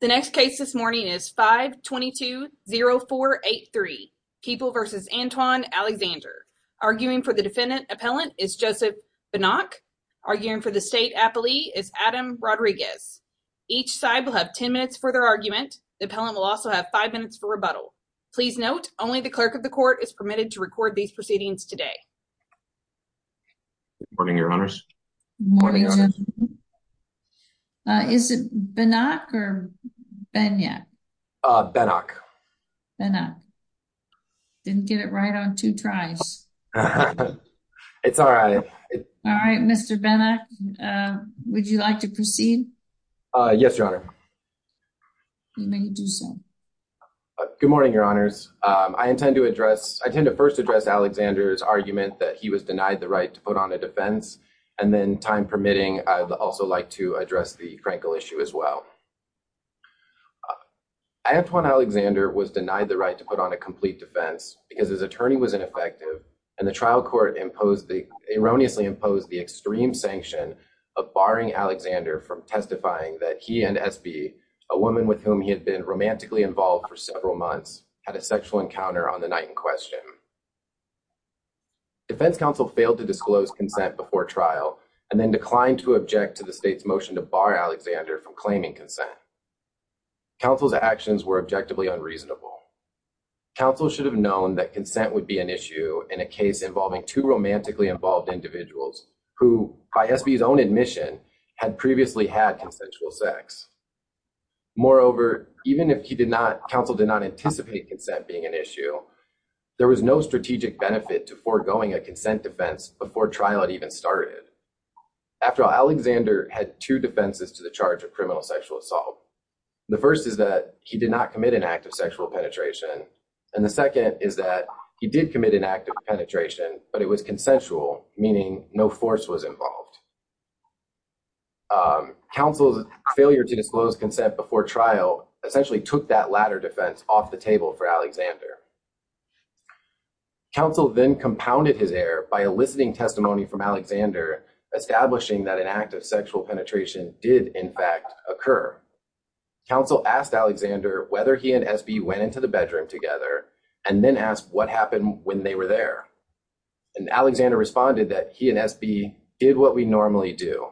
The next case this morning is 522-0483, Keeple v. Antoine Alexander. Arguing for the defendant appellant is Joseph Binnock. Arguing for the state appellee is Adam Rodriguez. Each side will have 10 minutes for their argument. The appellant will also have 5 minutes for rebuttal. Please note, only the clerk of the court is permitted to record these proceedings today. Good morning, Your Honors. Good morning, Judge. Is it Binnock or Beignet? Binnock. Binnock. Didn't get it right on two tries. It's all right. All right, Mr. Binnock, would you like to proceed? Yes, Your Honor. You may do so. Good morning, Your Honors. I intend to first address Alexander's argument that he was denied the right to put on a defense. And then, time permitting, I'd also like to address the Frankel issue as well. Antoine Alexander was denied the right to put on a complete defense because his attorney was ineffective, and the trial court erroneously imposed the extreme sanction of barring Alexander from testifying that he and S.B., a woman with whom he had been romantically involved for several months, had a sexual encounter on the night in question. Defense counsel failed to disclose consent before trial and then declined to object to the state's motion to bar Alexander from claiming consent. Counsel's actions were objectively unreasonable. Counsel should have known that consent would be an issue in a case involving two romantically involved individuals who, by S.B.'s own admission, had previously had consensual sex. Moreover, even if counsel did not anticipate consent being an issue, there was no strategic benefit to foregoing a consent defense before trial had even started. After all, Alexander had two defenses to the charge of criminal sexual assault. The first is that he did not commit an act of sexual penetration, and the second is that he did commit an act of penetration, but it was consensual, meaning no force was involved. Counsel's failure to disclose consent before trial essentially took that latter defense off the table for Alexander. Counsel then compounded his error by eliciting testimony from Alexander, establishing that an act of sexual penetration did, in fact, occur. Counsel asked Alexander whether he and S.B. went into the bedroom together and then asked what happened when they were there. Alexander responded that he and S.B. did what we normally do,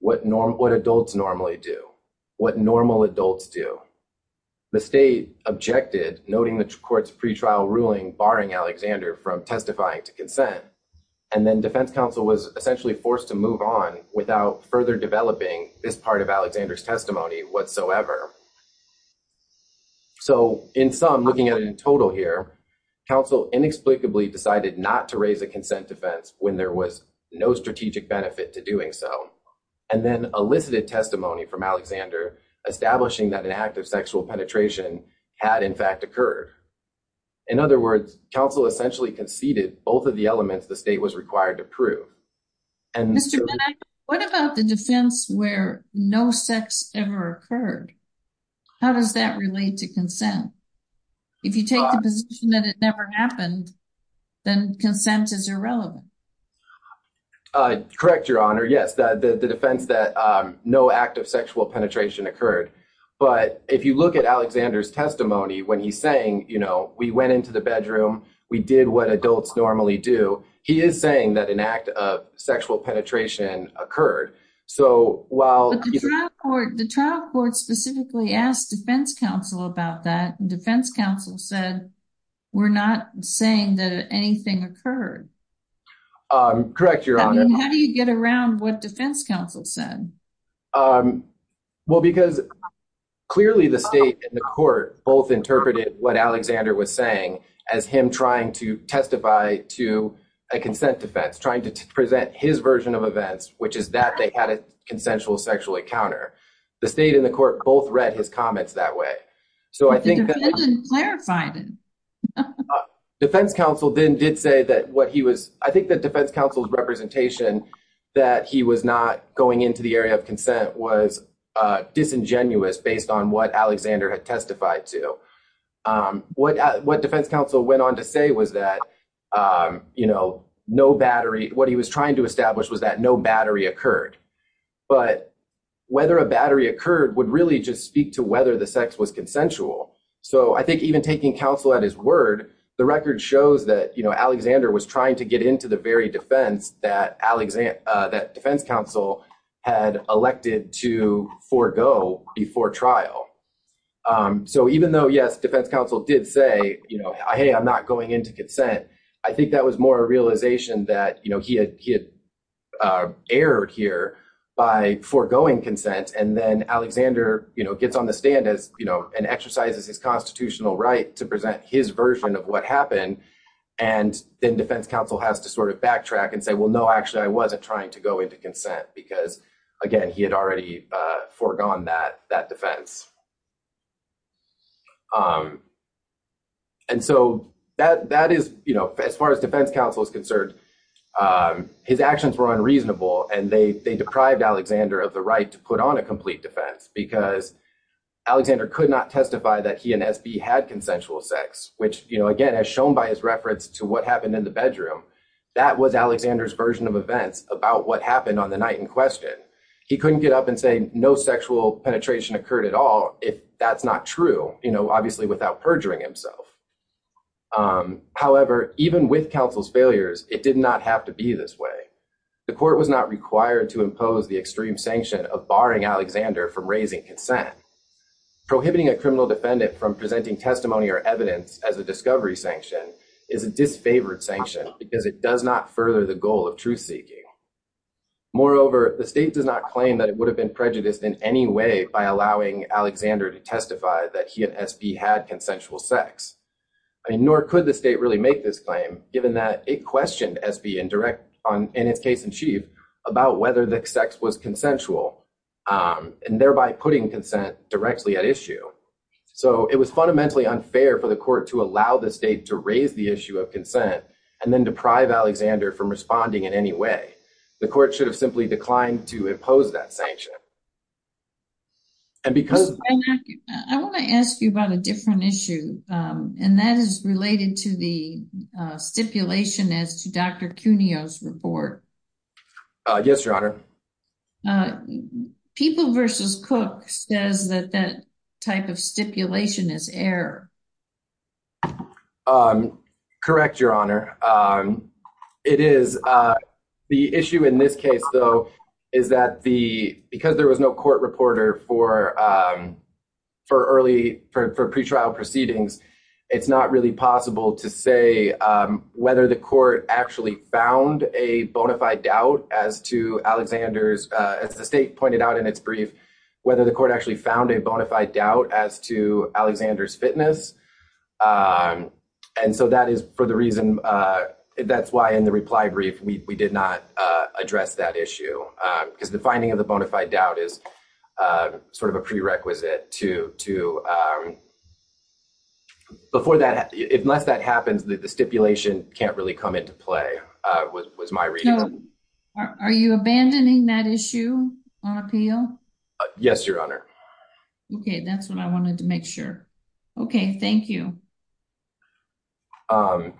what adults normally do, what normal adults do. The state objected, noting the court's pretrial ruling barring Alexander from testifying to consent, and then defense counsel was essentially forced to move on without further developing this part of Alexander's testimony whatsoever. So, in sum, looking at it in total here, counsel inexplicably decided not to raise a consent defense when there was no strategic benefit to doing so, and then elicited testimony from Alexander, establishing that an act of sexual penetration had, in fact, occurred. In other words, counsel essentially conceded both of the elements the state was required to prove. Mr. Bennett, what about the defense where no sex ever occurred? How does that relate to consent? If you take the position that it never happened, then consent is irrelevant. Correct, Your Honor. Yes, the defense that no act of sexual penetration occurred. But if you look at Alexander's testimony when he's saying, you know, we went into the bedroom, we did what adults normally do, he is saying that an act of sexual penetration occurred. But the trial court specifically asked defense counsel about that, and defense counsel said, we're not saying that anything occurred. Correct, Your Honor. I mean, how do you get around what defense counsel said? Well, because clearly the state and the court both interpreted what Alexander was saying as him trying to testify to a consent defense, trying to present his version of events, which is that they had a consensual sexual encounter. The state and the court both read his comments that way. The defense didn't clarify it. Defense counsel then did say that what he was, I think that defense counsel's representation that he was not going into the area of consent was disingenuous based on what Alexander had testified to. What defense counsel went on to say was that, you know, no battery, what he was trying to establish was that no battery occurred. But whether a battery occurred would really just speak to whether the sex was consensual. So I think even taking counsel at his word, the record shows that, you know, Alexander was trying to get into the very defense that defense counsel had elected to forego before trial. So even though, yes, defense counsel did say, you know, hey, I'm not going into consent, I think that was more a realization that, you know, he had erred here by foregoing consent. And then Alexander, you know, gets on the stand as, you know, and exercises his constitutional right to present his version of what happened. And then defense counsel has to sort of backtrack and say, well, no, actually, I wasn't trying to go into consent because, again, he had already foregone that defense. And so that is, you know, as far as defense counsel is concerned, his actions were unreasonable. And they deprived Alexander of the right to put on a complete defense because Alexander could not testify that he and SB had consensual sex, which, you know, again, as shown by his reference to what happened in the bedroom, that was Alexander's version of events about what happened on the night in question. He couldn't get up and say no sexual penetration occurred at all if that's not true, you know, obviously without perjuring himself. However, even with counsel's failures, it did not have to be this way. The court was not required to impose the extreme sanction of barring Alexander from raising consent. Prohibiting a criminal defendant from presenting testimony or evidence as a discovery sanction is a disfavored sanction because it does not further the goal of truth seeking. Moreover, the state does not claim that it would have been prejudiced in any way by allowing Alexander to testify that he and SB had consensual sex. I mean, nor could the state really make this claim given that it questioned SB in its case in chief about whether the sex was consensual and thereby putting consent directly at issue. So, it was fundamentally unfair for the court to allow the state to raise the issue of consent and then deprive Alexander from responding in any way. The court should have simply declined to impose that sanction. I want to ask you about a different issue, and that is related to the stipulation as to Dr. Cuneo's report. Yes, your honor. People versus Cook says that that type of stipulation is error. Correct, your honor. It is. The issue in this case, though, is that the because there was no court reporter for. For early for pretrial proceedings, it's not really possible to say whether the court actually found a bona fide doubt as to Alexander's as the state pointed out in its brief, whether the court actually found a bona fide doubt as to Alexander's fitness. And so that is for the reason that's why, in the reply brief, we did not address that issue because the finding of the bona fide doubt is sort of a prerequisite to to. Before that, unless that happens, the stipulation can't really come into play was my reading. Are you abandoning that issue on appeal? Yes, your honor. Okay, that's what I wanted to make sure. Okay, thank you. To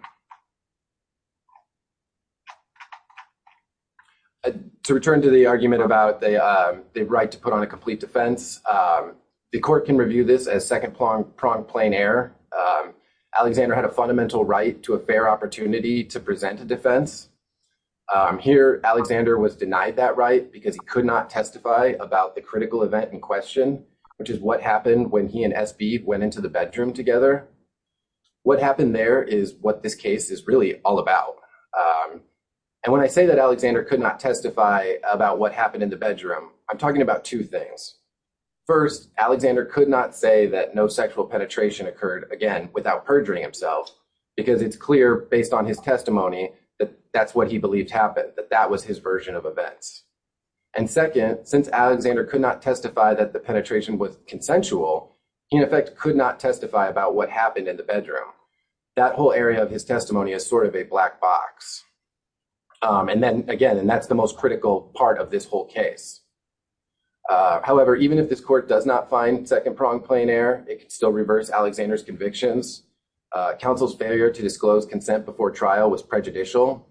return to the argument about the right to put on a complete defense. The court can review this as second prong prong plane air. Alexander had a fundamental right to a fair opportunity to present a defense. Here, Alexander was denied that right because he could not testify about the critical event in question, which is what happened when he and went into the bedroom together. What happened there is what this case is really all about. And when I say that Alexander could not testify about what happened in the bedroom, I'm talking about two things. First, Alexander could not say that no sexual penetration occurred again without perjuring himself, because it's clear based on his testimony that that's what he believed happened that that was his version of events. And second, since Alexander could not testify that the penetration was consensual, in effect, could not testify about what happened in the bedroom. That whole area of his testimony is sort of a black box. And then again, and that's the most critical part of this whole case. However, even if this court does not find second prong plane air, it can still reverse Alexander's convictions. Counsel's failure to disclose consent before trial was prejudicial.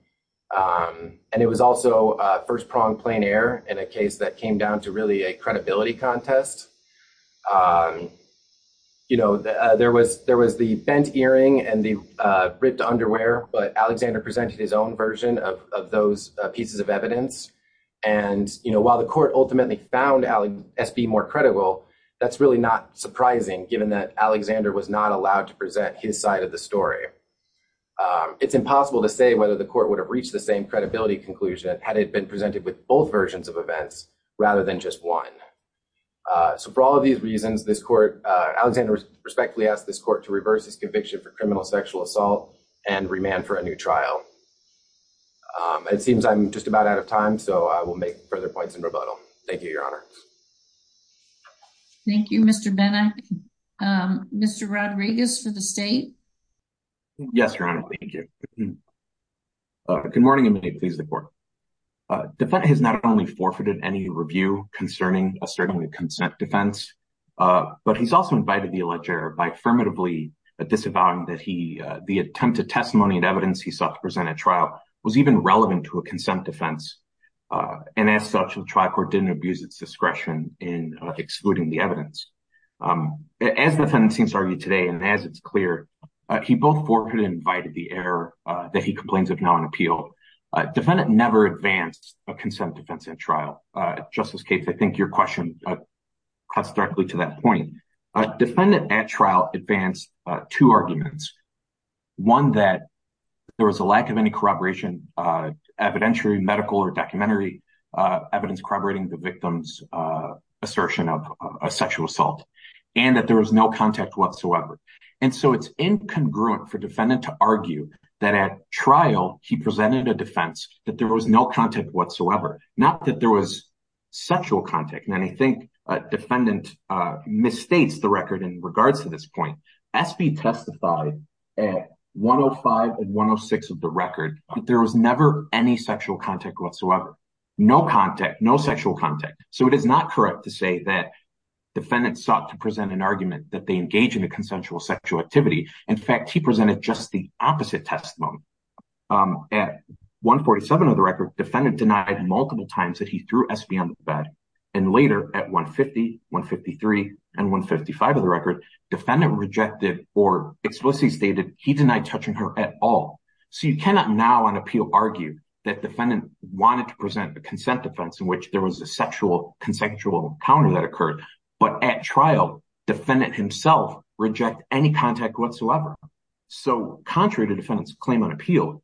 And it was also first prong plane air in a case that came down to really a credibility contest. You know, there was the bent earring and the ripped underwear, but Alexander presented his own version of those pieces of evidence. And, you know, while the court ultimately found S.B. more credible, that's really not surprising, given that Alexander was not allowed to present his side of the story. It's impossible to say whether the court would have reached the same credibility conclusion had it been presented with both versions of events rather than just one. So for all of these reasons, this court, Alexander respectfully asked this court to reverse his conviction for criminal sexual assault and remand for a new trial. It seems I'm just about out of time, so I will make further points in rebuttal. Thank you, Your Honor. Thank you, Mr. Bennett. Mr. Rodriguez for the state. Yes, Your Honor. Thank you. Good morning and may it please the court. Defendant has not only forfeited any review concerning a certain consent defense, but he's also invited the alleged error by affirmatively disavowing that he the attempted testimony and evidence he sought to present at trial was even relevant to a consent defense. And as such, the trial court didn't abuse its discretion in excluding the evidence. As the defendant seems to argue today, and as it's clear, he both forfeited and invited the error that he complains of non appeal. Defendant never advanced a consent defense in trial. Justice Capes, I think your question cuts directly to that point. Defendant at trial advanced two arguments. One that there was a lack of any corroboration, evidentiary medical or documentary evidence corroborating the victim's assertion of a sexual assault and that there was no contact whatsoever. And so it's incongruent for defendant to argue that at trial, he presented a defense that there was no contact whatsoever. Not that there was sexual contact. And I think defendant misstates the record in regards to this point. SB testified at 105 and 106 of the record. There was never any sexual contact whatsoever. No contact, no sexual contact. So it is not correct to say that defendants sought to present an argument that they engage in a consensual sexual activity. In fact, he presented just the opposite testimony. At 147 of the record, defendant denied multiple times that he threw SB on the bed. And later at 150, 153 and 155 of the record, defendant rejected or explicitly stated he denied touching her at all. So you cannot now on appeal argue that defendant wanted to present a consent defense in which there was a sexual, consensual encounter that occurred. But at trial, defendant himself reject any contact whatsoever. So contrary to defendant's claim on appeal,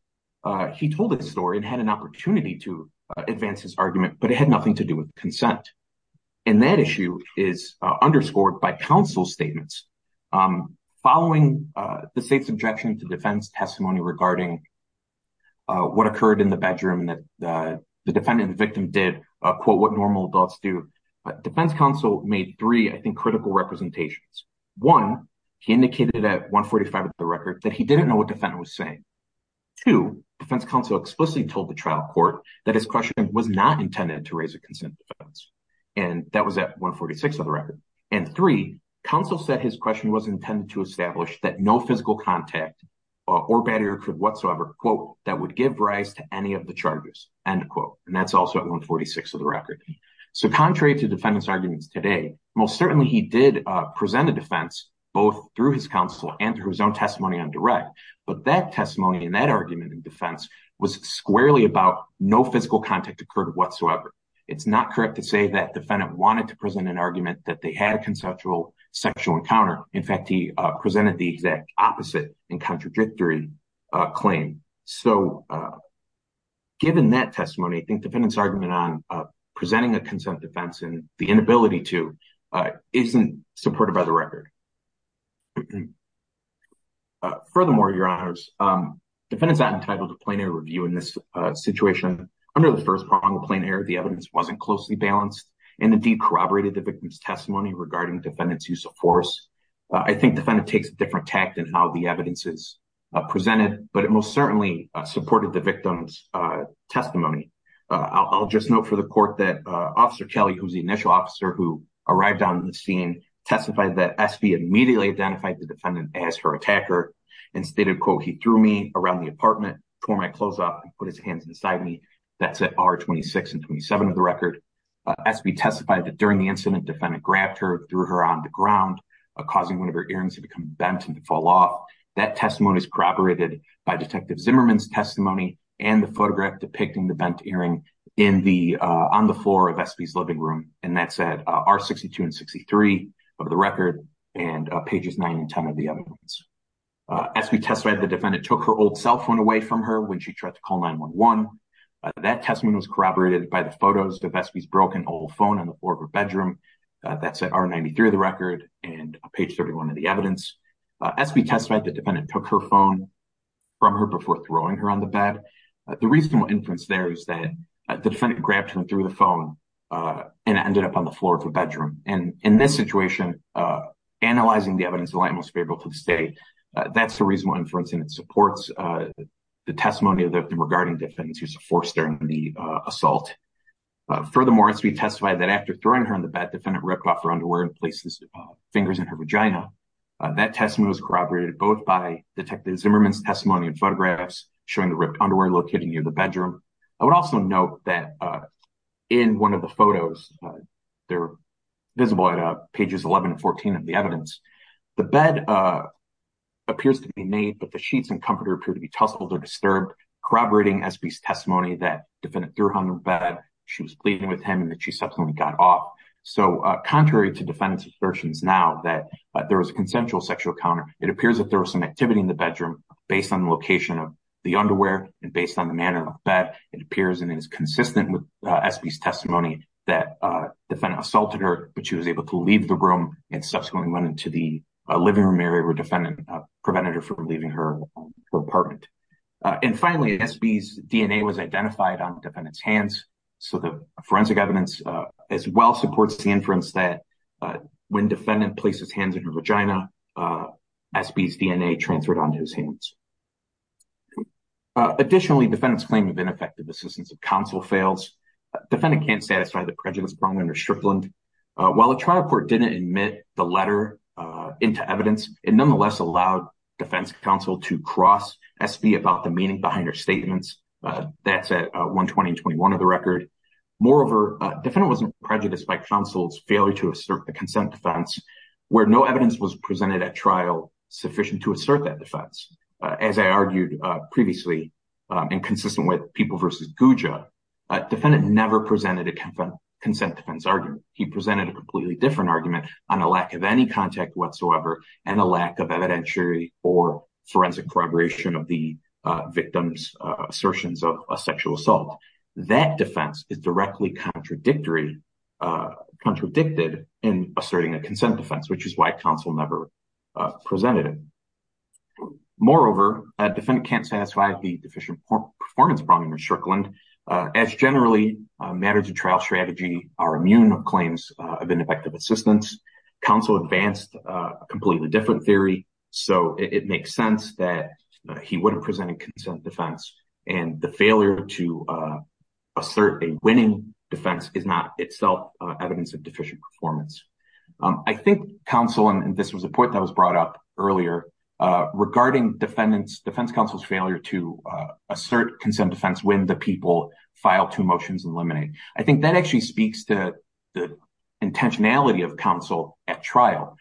he told this story and had an opportunity to advance his argument, but it had nothing to do with consent. And that issue is underscored by counsel statements. Following the state's objection to defense testimony regarding what occurred in the bedroom and that the defendant and victim did, quote, what normal adults do, defense counsel made three, I think, critical representations. One, he indicated at 145 of the record that he didn't know what defendant was saying. Two, defense counsel explicitly told the trial court that his questioning was not intended to raise a consent defense. And that was at 146 of the record. And three, counsel said his question was intended to establish that no physical contact or battery occurred whatsoever, quote, that would give rise to any of the charges, end quote. And that's also at 146 of the record. So contrary to defendant's arguments today, most certainly he did present a defense both through his counsel and through his own testimony on direct. But that testimony and that argument in defense was squarely about no physical contact occurred whatsoever. It's not correct to say that defendant wanted to present an argument that they had a conceptual sexual encounter. In fact, he presented the exact opposite and contradictory claim. So given that testimony, I think defendant's argument on presenting a consent defense and the inability to isn't supported by the record. Furthermore, your honors, defendant's not entitled to plain air review in this situation. Under the first prong of plain air, the evidence wasn't closely balanced and indeed corroborated the victim's testimony regarding defendant's use of force. I think defendant takes a different tact in how the evidence is presented, but it most certainly supported the victim's testimony. I'll just note for the court that Officer Kelly, who's the initial officer who arrived on the scene, testified that SB immediately identified the defendant as her attacker. And stated, quote, he threw me around the apartment, tore my clothes off, and put his hands beside me. That's at R26 and 27 of the record. SB testified that during the incident, defendant grabbed her, threw her on the ground, causing one of her ears to become bent and to fall off. That testimony is corroborated by Detective Zimmerman's testimony and the photograph depicting the bent earring on the floor of SB's living room. And that's at R62 and 63 of the record and pages 9 and 10 of the evidence. SB testified the defendant took her old cell phone away from her when she tried to call 911. That testimony was corroborated by the photos of SB's broken old phone on the floor of her bedroom. That's at R93 of the record and page 31 of the evidence. SB testified the defendant took her phone from her before throwing her on the bed. The reasonable inference there is that the defendant grabbed her through the phone and ended up on the floor of her bedroom. And in this situation, analyzing the evidence, the light most favorable to the state, that's the reasonable inference. And it supports the testimony regarding defendant's use of force during the assault. Furthermore, SB testified that after throwing her on the bed, defendant ripped off her underwear and placed his fingers in her vagina. That testimony was corroborated both by Detective Zimmerman's testimony and photographs showing the ripped underwear located near the bedroom. I would also note that in one of the photos, they're visible at pages 11 and 14 of the evidence, the bed appears to be made, but the sheets and comforter appear to be tussled or disturbed, corroborating SB's testimony that defendant threw her on the bed, she was bleeding with him, and that she subsequently got off. So contrary to defendant's assertions now that there was a consensual sexual encounter, it appears that there was some activity in the bedroom based on the location of the underwear and based on the manner of the bed. It appears and is consistent with SB's testimony that defendant assaulted her, but she was able to leave the room and subsequently went into the living room area where defendant prevented her from leaving her apartment. And finally, SB's DNA was identified on defendant's hands. So the forensic evidence as well supports the inference that when defendant placed his hands on her vagina, SB's DNA transferred onto his hands. Additionally, defendant's claim of ineffective assistance of counsel fails. Defendant can't satisfy the prejudice brought under Strickland. While the trial court didn't admit the letter into evidence, it nonetheless allowed defense counsel to cross SB about the meaning behind her statements. That's at 120 and 21 of the record. Moreover, defendant wasn't prejudiced by counsel's failure to assert a consent defense where no evidence was presented at trial sufficient to assert that defense. As I argued previously and consistent with People v. Guja, defendant never presented a consent defense argument. He presented a completely different argument on a lack of any contact whatsoever and a lack of evidentiary or forensic corroboration of the victim's assertions of a sexual assault. That defense is directly contradicted in asserting a consent defense, which is why counsel never presented it. Moreover, defendant can't satisfy the deficient performance problem in Strickland. As generally, matters of trial strategy are immune of claims of ineffective assistance. Counsel advanced a completely different theory, so it makes sense that he wouldn't present a consent defense. And the failure to assert a winning defense is not itself evidence of deficient performance. I think counsel, and this was a point that was brought up earlier, regarding defense counsel's failure to assert consent defense when the people file two motions and eliminate. I think that actually speaks to the intentionality of counsel at trial.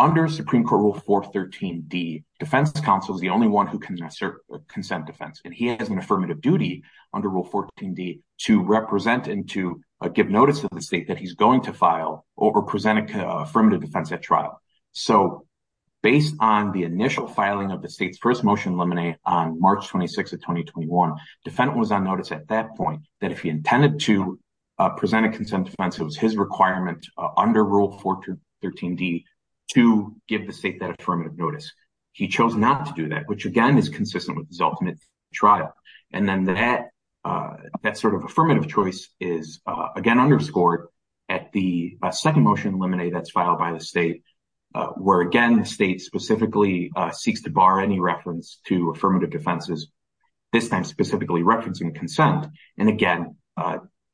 Under Supreme Court Rule 413D, defense counsel is the only one who can assert a consent defense, and he has an affirmative duty under Rule 14D to represent and to give notice to the state that he's going to file or present an affirmative defense at trial. So based on the initial filing of the state's first motion to eliminate on March 26 of 2021, defendant was on notice at that point that if he intended to present a consent defense, it was his requirement under Rule 413D to give the state that affirmative notice. He chose not to do that, which again is consistent with his ultimate trial. And then that sort of affirmative choice is again underscored at the second motion to eliminate that's filed by the state, where again the state specifically seeks to bar any reference to affirmative defenses, this time specifically referencing consent. And again,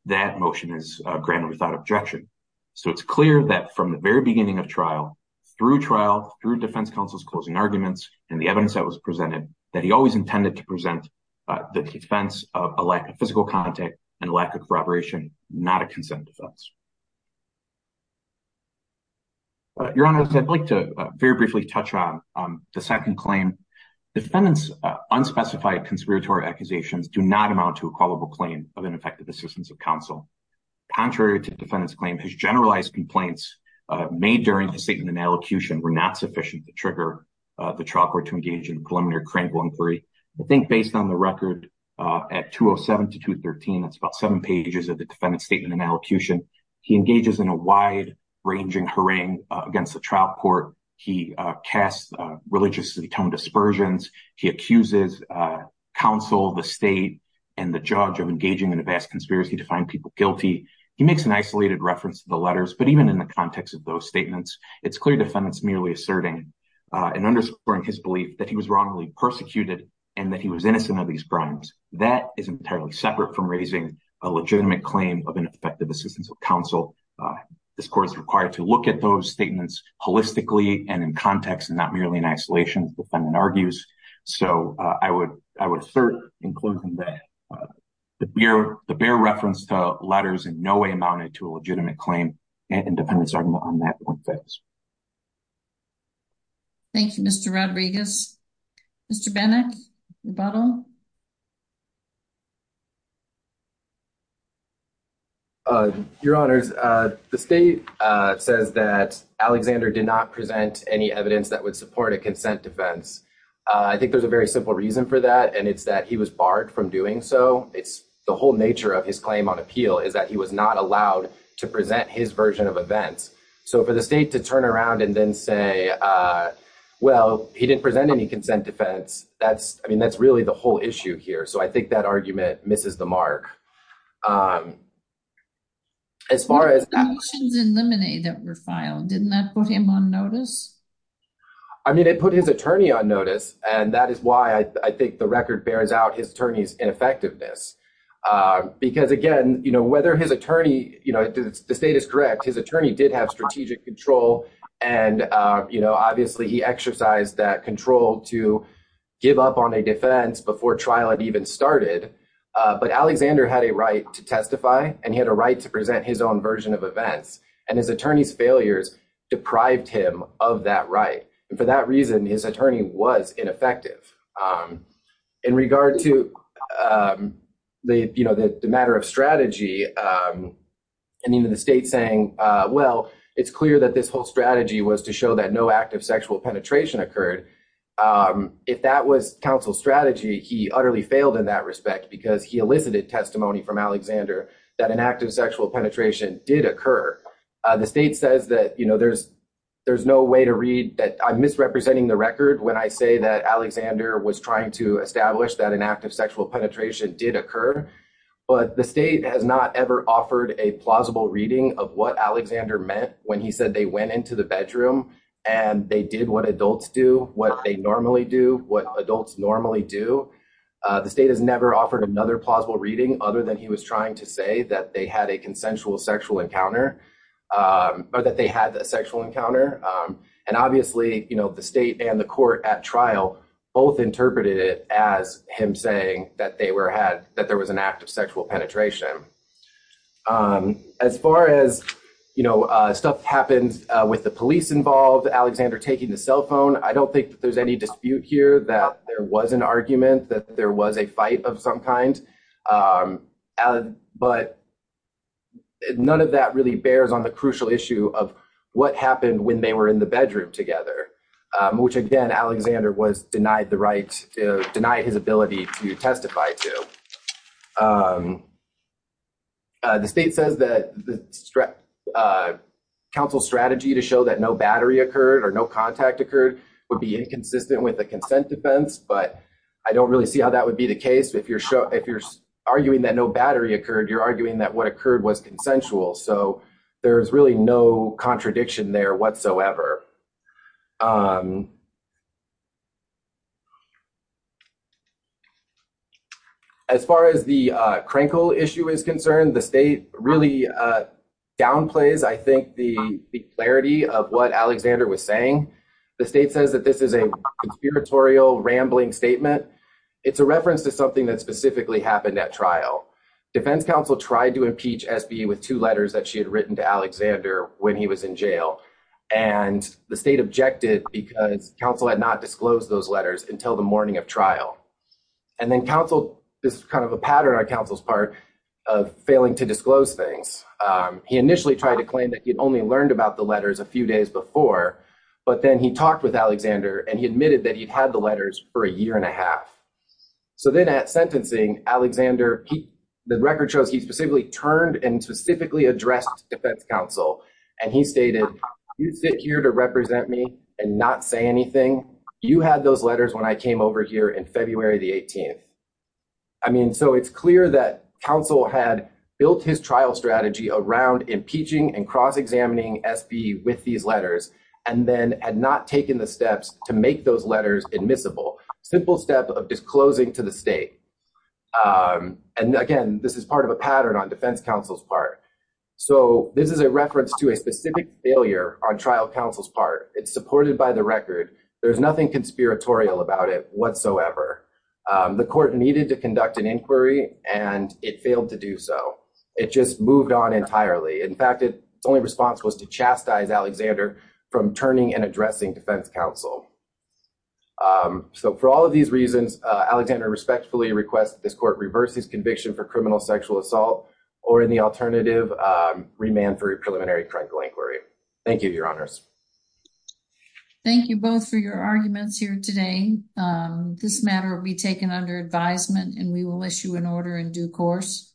that motion is granted without objection. So it's clear that from the very beginning of trial, through trial, through defense counsel's closing arguments and the evidence that was presented, that he always intended to present the defense of a lack of physical contact and lack of corroboration, not a consent defense. Your Honor, I'd like to very briefly touch on the second claim. Defendant's unspecified conspiratorial accusations do not amount to a culpable claim of ineffective assistance of counsel. Contrary to the defendant's claim, his generalized complaints made during the statement and allocution were not sufficient to trigger the trial court to engage in preliminary criminal inquiry. I think based on the record at 207 to 213, that's about seven pages of the defendant's statement and allocution, he engages in a wide ranging harangue against the trial court. He casts religiously toned dispersions. He accuses counsel, the state, and the judge of engaging in a vast conspiracy to find people guilty. He makes an isolated reference to the letters, but even in the context of those statements, it's clear defendant's merely asserting and underscoring his belief that he was wrongly persecuted and that he was innocent of these crimes. That is entirely separate from raising a legitimate claim of ineffective assistance of counsel. This court is required to look at those statements holistically and in context and not merely in isolation, the defendant argues. I would assert, including that the bare reference to letters in no way amounted to a legitimate claim and defendant's argument on that point fails. Thank you, Mr. Rodriguez. Mr. Benek, rebuttal? Your honors, the state says that Alexander did not present any evidence that would support a consent defense. I think there's a very simple reason for that and it's that he was barred from doing so. It's the whole nature of his claim on appeal is that he was not allowed to present his version of events. So for the state to turn around and then say, well, he didn't present any consent defense. I mean, that's really the whole issue here. So I think that argument misses the mark. As far as that... I mean, it put his attorney on notice and that is why I think the record bears out his attorney's ineffectiveness. Because again, whether his attorney, the state is correct, his attorney did have strategic control and obviously he exercised that control to give up on a defense before trial had even started. But Alexander had a right to testify and he had a right to present his own version of events and his attorney's failures deprived him of that right. And for that reason, his attorney was ineffective. In regard to the matter of strategy, I mean, the state saying, well, it's clear that this whole strategy was to show that no active sexual penetration occurred. If that was counsel's strategy, he utterly failed in that respect because he elicited testimony from Alexander that an active sexual penetration did occur. The state says that there's no way to read that... I'm misrepresenting the record when I say that Alexander was trying to establish that an active sexual penetration did occur. But the state has not ever offered a plausible reading of what Alexander meant when he said they went into the bedroom and they did what adults do, what they normally do, what adults normally do. The state has never offered another plausible reading other than he was trying to say that they had a consensual sexual encounter. Or that they had a sexual encounter. And obviously, the state and the court at trial both interpreted it as him saying that there was an active sexual penetration. As far as stuff happens with the police involved, Alexander taking the cell phone, I don't think that there's any dispute here that there was an argument, that there was a fight of some kind. But none of that really bears on the crucial issue of what happened when they were in the bedroom together. Which again, Alexander was denied the right, denied his ability to testify to. The state says that the council's strategy to show that no battery occurred or no contact occurred would be inconsistent with the consent defense. But I don't really see how that would be the case if you're arguing that no battery occurred, you're arguing that what occurred was consensual. So there's really no contradiction there whatsoever. As far as the Krenkel issue is concerned, the state really downplays, I think, the clarity of what Alexander was saying. The state says that this is a conspiratorial rambling statement. It's a reference to something that specifically happened at trial. Defense counsel tried to impeach SBE with two letters that she had written to Alexander when he was in jail. And the state objected because counsel had not disclosed those letters until the morning of trial. And then counsel, this is kind of a pattern on counsel's part, of failing to disclose things. He initially tried to claim that he had only learned about the letters a few days before, but then he talked with Alexander and his staff. So then at sentencing, Alexander, the record shows he specifically turned and specifically addressed defense counsel. And he stated, you sit here to represent me and not say anything. You had those letters when I came over here in February the 18th. I mean, so it's clear that counsel had built his trial strategy around impeaching and cross-examining SBE with these letters and then had not taken the steps of disclosing to the state. And again, this is part of a pattern on defense counsel's part. So this is a reference to a specific failure on trial counsel's part. It's supported by the record. There's nothing conspiratorial about it whatsoever. The court needed to conduct an inquiry and it failed to do so. It just moved on entirely. In fact, its only response was to chastise Alexander and respectfully request that this court reverse his conviction for criminal sexual assault or in the alternative, remand for a preliminary criminal inquiry. Thank you, your honors. Thank you both for your arguments here today. This matter will be taken under advisement and we will issue an order in due course.